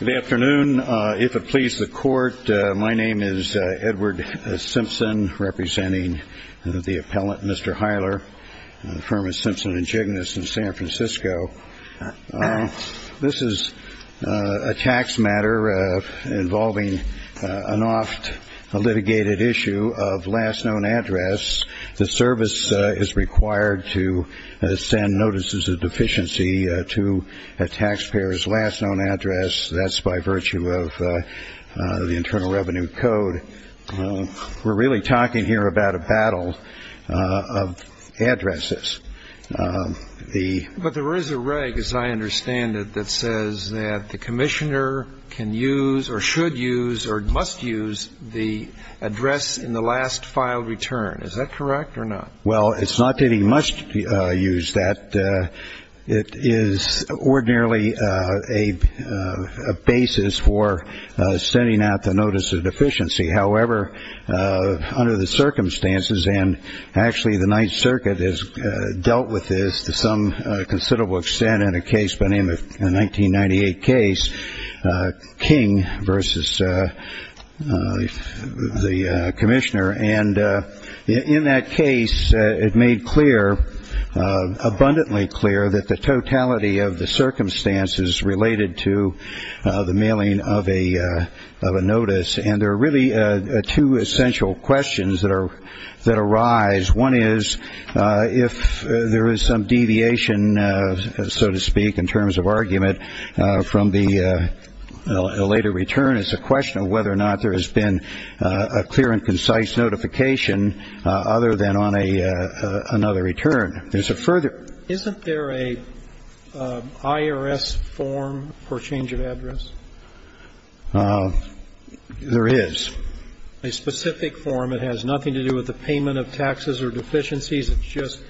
Good afternoon. If it pleases the court, my name is Edward Simpson, representing the appellant Mr. Hyler, the firm of Simpson & Jigness in San Francisco. This is a tax matter involving an oft-litigated issue of last known address. The service is required to send notices of taxpayer's last known address. That's by virtue of the Internal Revenue Code. We're really talking here about a battle of addresses. But there is a reg, as I understand it, that says that the commissioner can use or should use or must use the address in the last filed return. Is that correct or not? Well, it's not that he must use that. It is ordinarily a basis for sending out the notice of deficiency. However, under the circumstances, and actually the Ninth Circuit has dealt with this to some made clear, abundantly clear, that the totality of the circumstances related to the mailing of a notice. And there are really two essential questions that arise. One is, if there is some deviation, so to speak, in terms of argument from the later return, it's a question of whether or not there has been a clear and concise notification other than on another return. Isn't there an IRS form for change of address? There is. A specific form. It has nothing to do with the payment of taxes or deficiencies. It's just,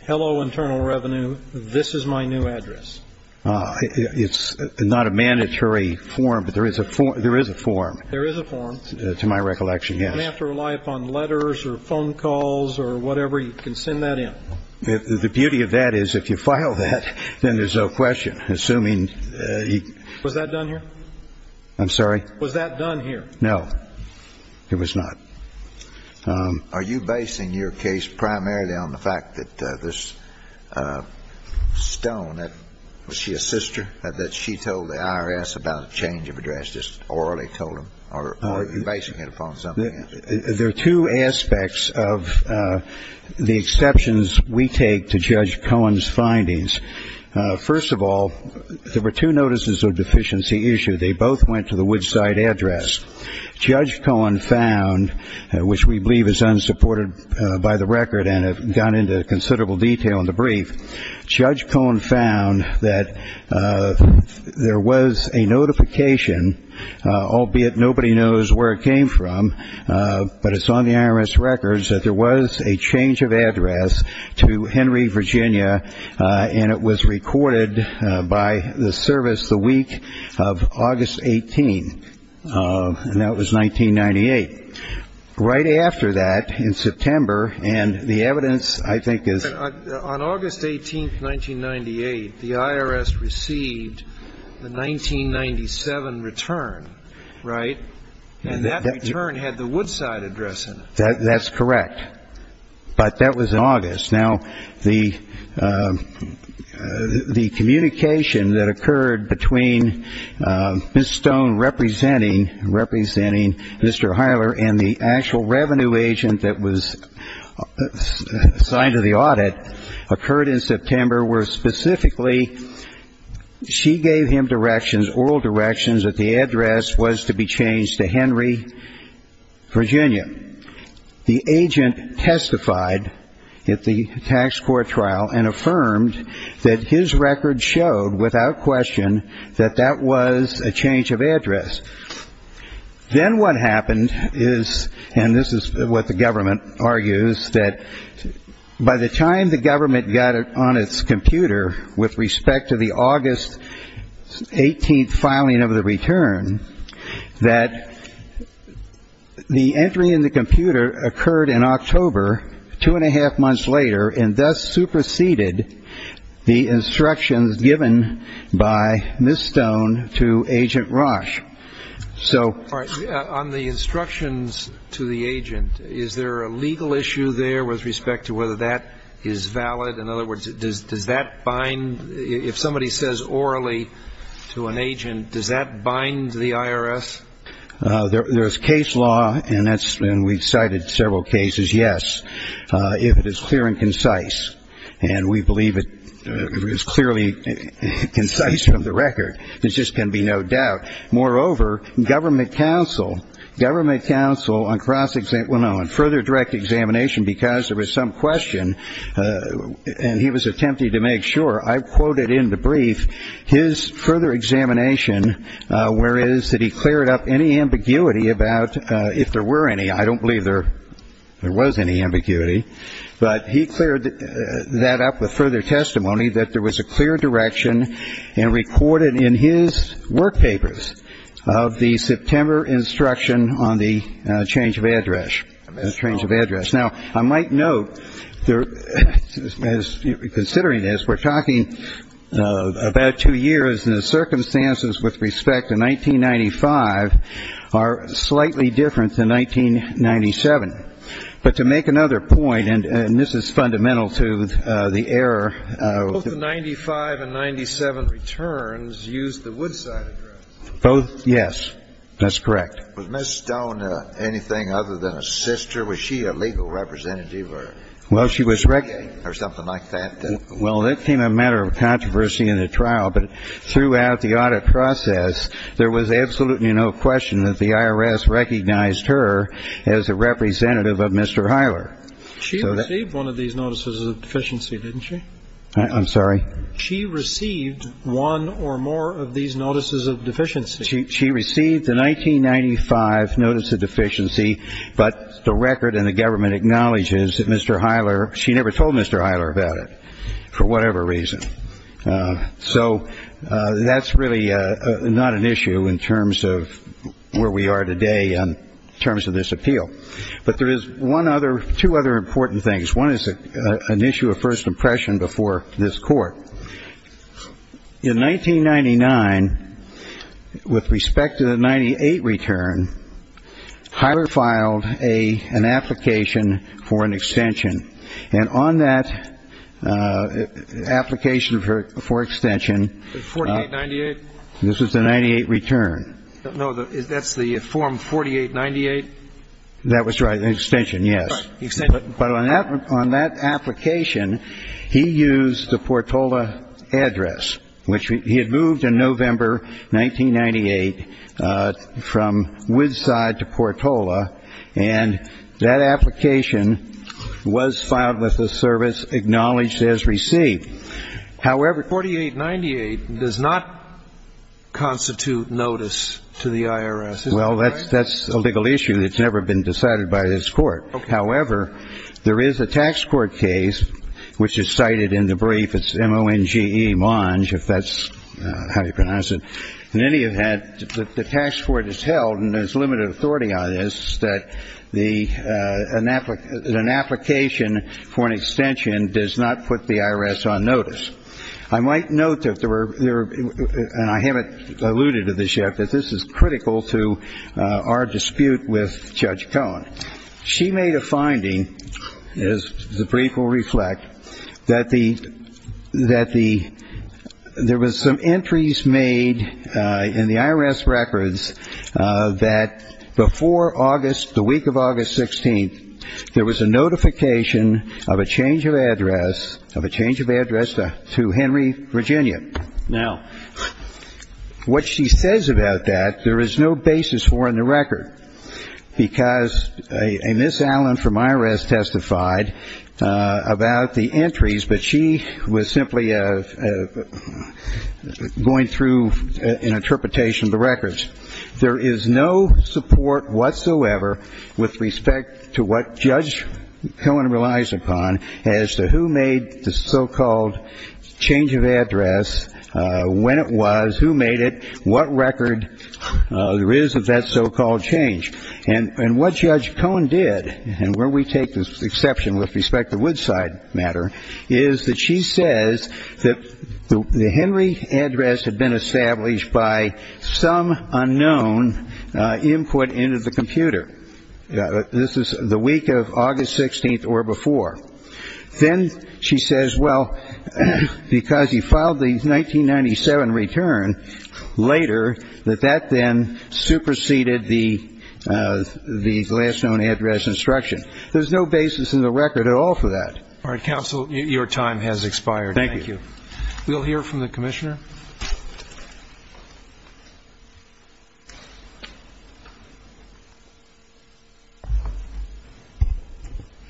hello, Internal Revenue, this is my new address. It's not a mandatory form, but there is a form. There is a form. There is a form. To my recollection, yes. You don't have to rely upon letters or phone calls or whatever. You can send that in. The beauty of that is if you file that, then there's no question. Assuming he... Was that done here? I'm sorry? Was that done here? No, it was not. Are you basing your case primarily on the fact that this Stone, was she a sister, that she told the IRS about a change of address, just orally told them, or are you basing it upon something else? There are two aspects of the exceptions we take to Judge Cohen's findings. First of all, there were two notices of deficiency issued. They both went to the Woodside address. Judge Cohen found, which we believe is unsupported by the record and have gone into considerable detail in the brief, Judge Cohen found that there was a notification, albeit nobody knows where it came from, but it's on the IRS records, that there was a change of address to Henry, Virginia, and it was recorded by the service the week of and that was 1998. Right after that, in September, and the evidence I think is... But on August 18th, 1998, the IRS received the 1997 return, right? And that return had the Woodside address in it. But that was in August. Now, the communication that occurred between Ms. Stone representing Mr. Hiler and the actual revenue agent that was assigned to the audit occurred in September, where specifically she gave him directions, oral directions, that the address was to be changed to Henry, Virginia. The agent testified at the tax court trial and affirmed that his record showed without question that that was a change of address. Then what happened is, and this is what the government argues, that by the time the government got it on its computer with respect to the August 18th filing of the return, that the entry in the computer occurred in October, two and a half months later, and thus superseded the instructions given by Ms. Stone to Agent Rausch. So... All right. On the instructions to the agent, is there a legal issue there with respect to whether that is valid? In other words, does that bind... Does that bind to the IRS? There's case law, and we've cited several cases, yes, if it is clear and concise. And we believe it is clearly concise from the record. There just can be no doubt. Moreover, government counsel, government counsel on cross-exam... Well, no, on further direct examination, because there was some question, and he was that he cleared up any ambiguity about if there were any. I don't believe there was any ambiguity. But he cleared that up with further testimony that there was a clear direction and recorded in his work papers of the September instruction on the change of address, the change of address. Now, I might note, considering this, we're talking about two years, and the circumstances with respect to 1995 are slightly different than 1997. But to make another point, and this is fundamental to the error... Both the 95 and 97 returns used the Woodside address. Both, yes. That's correct. Was Ms. Stone anything other than a sister? Was she a legal representative or... Well, she was... Or something like that? Well, that became a matter of controversy in the trial, but throughout the audit process, there was absolutely no question that the IRS recognized her as a representative of Mr. Heiler. She received one of these notices of deficiency, didn't she? I'm sorry? She received one or more of these notices of deficiency. She received the 1995 notice of deficiency, but the record and the government acknowledges that Mr. Heiler... She never told Mr. Heiler about it, for whatever reason. So that's really not an issue in terms of where we are today in terms of this appeal. But there is one other... Two other important things. One is an issue of first impression before this court. In 1999, with respect to the 98 return, Heiler filed an application for an extension. And on that application for extension... The 4898? This is the 98 return. No, that's the form 4898? That was, right, an extension, yes. Right, the extension. But on that application, he used the Portola address, which he had moved in November 1998 from Woodside to Portola, and that application was filed with the service acknowledged as received. However... 4898 does not constitute notice to the IRS, is that right? Well, that's a legal issue that's never been decided by this court. However, there is a tax court case, which is cited in the brief. It's M-O-N-G-E, Monge, if that's how you pronounce it. In any event, the tax court has held, and there's limited authority on this, that an application for an extension does not put the IRS on notice. I might note that there were, and I haven't alluded to this yet, that this is critical to our dispute with Judge Cohen. She made a finding, as the brief will reflect, that there was some entries made in the IRS records that before the week of August 16th, there was a notification of a change of address to Henry, Virginia. Now, what she says about that, there is no basis for in the record because a Miss Allen from IRS testified about the entries, but she was simply going through an interpretation of the records. There is no support whatsoever with respect to what Judge Cohen relies upon as to who made the so-called change of address, when it was, who made it, and what record there is of that so-called change. And what Judge Cohen did, and where we take this exception with respect to Woodside matter, is that she says that the Henry address had been established by some unknown input into the computer. This is the week of August 16th or before. Then she says, well, because he filed the 1997 return later, that that then superseded the last known address instruction. There's no basis in the record at all for that. All right, Counsel, your time has expired. We'll hear from the Commissioner.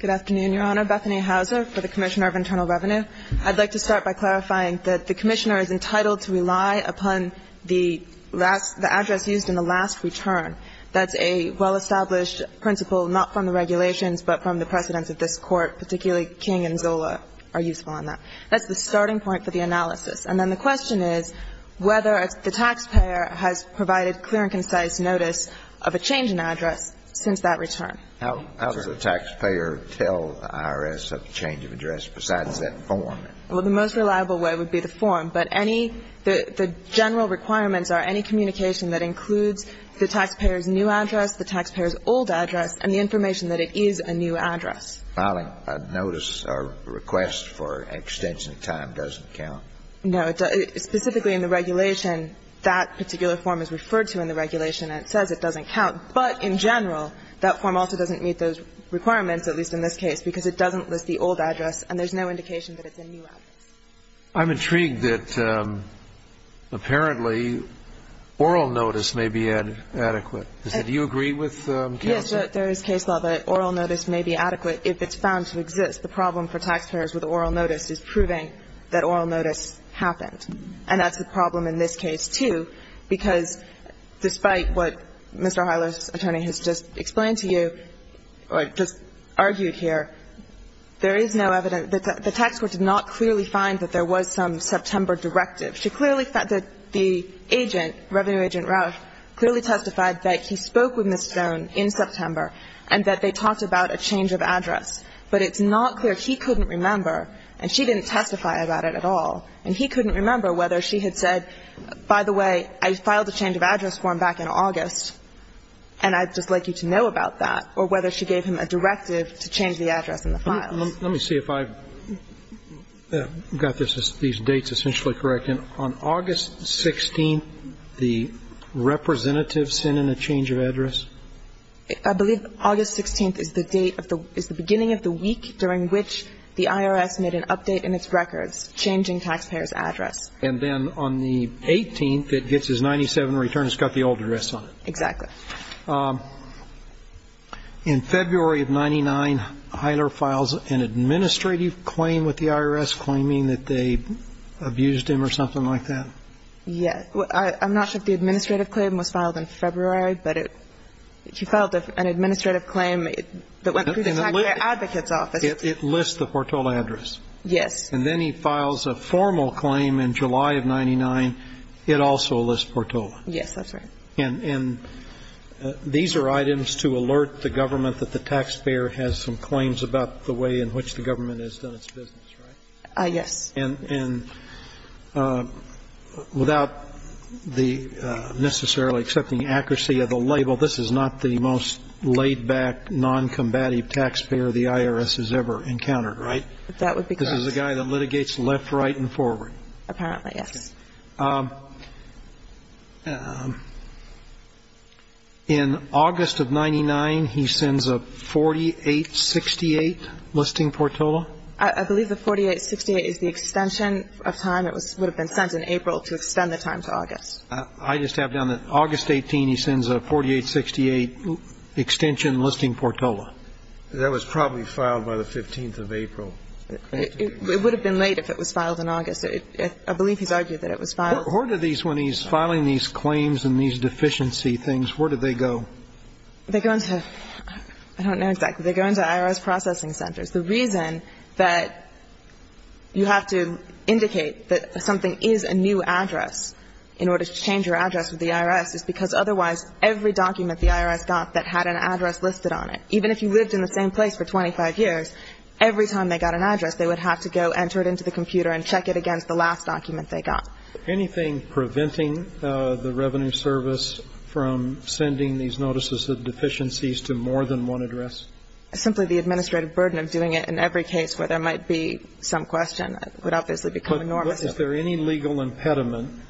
Good afternoon, Your Honor. Bethany Hauser for the Commissioner of Internal Revenue. I'd like to start by clarifying that the Commissioner is entitled to rely upon the last, the address used in the last return. That's a well-established principle, not from the regulations, but from the precedents of this Court, particularly King and Zola are useful in that. That's the starting point for the analysis. And then the question is, is there a basis in the record And the answer to that question is whether the taxpayer has provided clear and concise notice of a change in address since that return. How does the taxpayer tell the IRS of the change of address besides that form? Well, the most reliable way would be the form. But any, the general requirements are any communication that includes the taxpayer's new address, the taxpayer's old address, and the information that it is a new address. Filing a notice or request for extension time doesn't count? No, it doesn't. Specifically in the regulation, that particular form is referred to in the regulation and it says it doesn't count. But in general, that form also doesn't meet those requirements, at least in this case, because it doesn't list the old address and there's no indication that it's a new address. I'm intrigued that apparently oral notice may be adequate. Do you agree with Counsel? There is case law that oral notice may be adequate if it's found to exist. The problem for taxpayers with oral notice is proving that oral notice happened. And that's the problem in this case, too, because despite what Mr. O'Reilly's attorney has just explained to you, or just argued here, there is no evidence. The tax court did not clearly find that there was some September directive. She clearly found that the agent, Revenue Agent Rauch, clearly testified that he spoke with Ms. Stone in September and that they talked about a change of address. But it's not clear. He couldn't remember, and she didn't testify about it at all, and he couldn't remember whether she had said, by the way, I filed a change of address form back in August and I'd just like you to know about that, or whether she gave him a directive to change the address in the files. Let me see if I've got these dates essentially correct. On August 16th, the representative sent in a change of address? I believe August 16th is the beginning of the week during which the IRS made an update in its records, changing taxpayers' address. And then on the 18th, it gets his 97 return. It's got the old address on it. Exactly. In February of 99, Hyler files an administrative claim with the IRS claiming that they abused him or something like that? Yes. I'm not sure if the administrative claim was filed in February, but she filed an administrative claim that went through the Taxpayer Advocate's Office. It lists the Portola address. Yes. And then he files a formal claim in July of 99. It also lists Portola. Yes, that's right. And these are items to alert the government that the taxpayer has some claims about the way in which the government has done its business, right? Yes. And without necessarily accepting accuracy of the label, this is not the most laid-back, noncombative taxpayer the IRS has ever encountered, right? That would be correct. This is a guy that litigates left, right, and forward. Apparently, yes. In August of 99, he sends a 4868 listing Portola? I believe the 4868 is the extension of time that would have been sent in April to extend the time to August. I just have down that August 18, he sends a 4868 extension listing Portola. That was probably filed by the 15th of April. It would have been late if it was filed in August. I believe he's argued that it was late. Where do these, when he's filing these claims and these deficiency things, where do they go? They go into, I don't know exactly, they go into IRS processing centers. The reason that you have to indicate that something is a new address in order to change your address with the IRS is because otherwise every document the IRS got that had an address listed on it, even if you lived in the same place for 25 years, every time they got an address, they would have to go enter it into the computer and check it against the last document they got. Anything preventing the Revenue Service from sending these notices of deficiencies to more than one address? Simply the administrative burden of doing it in every case where there might be some question would obviously become enormous. But is there any legal impediment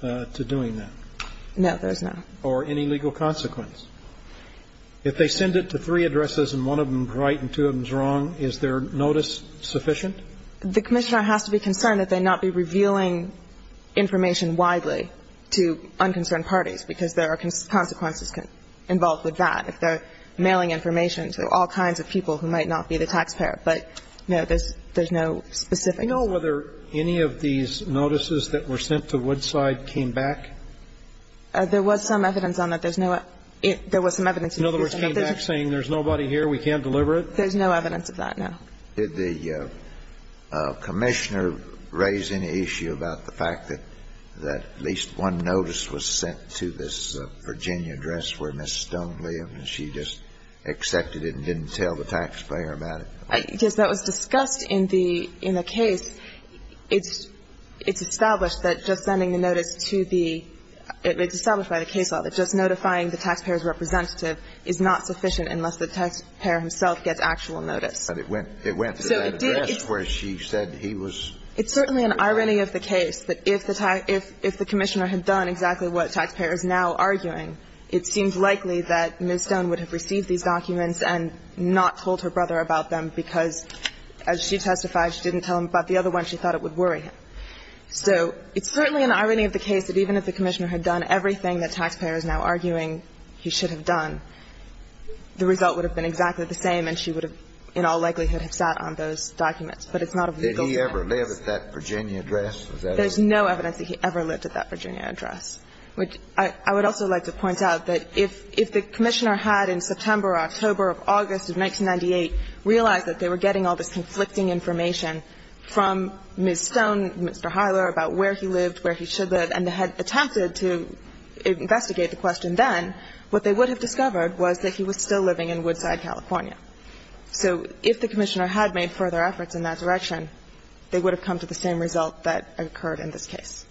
to doing that? No, there is not. Or any legal consequence? If they send it to three addresses and one of them is right and two of them is wrong, is their notice sufficient? The Commissioner has to be concerned that they not be revealing information widely to unconcerned parties because there are consequences involved with that. If they're mailing information to all kinds of people who might not be the taxpayer. But no, there's no specific... Do you know whether any of these notices that were sent to Woodside came back? There was some evidence on that. There was some evidence... In other words, came back saying there's nobody here, we can't deliver it? There's no evidence of that, no. Did the Commissioner raise any issue about the fact that at least one notice was sent to this Virginia address where Ms. Stone lived and she just accepted it and didn't tell the taxpayer about it? Yes, that was discussed in the case. It's established that just sending the notice to the... It's established by the case law that just notifying the taxpayer's representative is not sufficient unless the taxpayer himself gets actual notice. But it went to that address where she said he was... It's certainly an irony of the case that if the Commissioner had done exactly what the taxpayer is now arguing, it seems likely that Ms. Stone would have received these documents and not told her brother about them because, as she testified, she didn't tell him about the other one. She thought it would worry him. So it's certainly an irony of the case that even if the Commissioner had done everything the taxpayer is now arguing he should have done, the result would have been exactly the same and she would have, in all likelihood, sat on those documents. But it's not a legal case. Did he ever live at that Virginia address? There's no evidence that he ever lived at that Virginia address. I would also like to point out that if the Commissioner had, in September or October or August of 1998, realized that they were getting all this conflicting information from Ms. Stone, Mr. Hyler, about where he lived, where he should live, and had attempted to investigate the question then, what they would have discovered was that he was still living in Woodside, California. So if the Commissioner had made further efforts in that direction, they would have come to the same result that occurred in this case.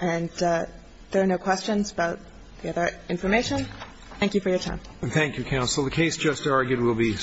And there are no questions about the other information. Thank you for your time. Thank you, Counsel. The case just argued will be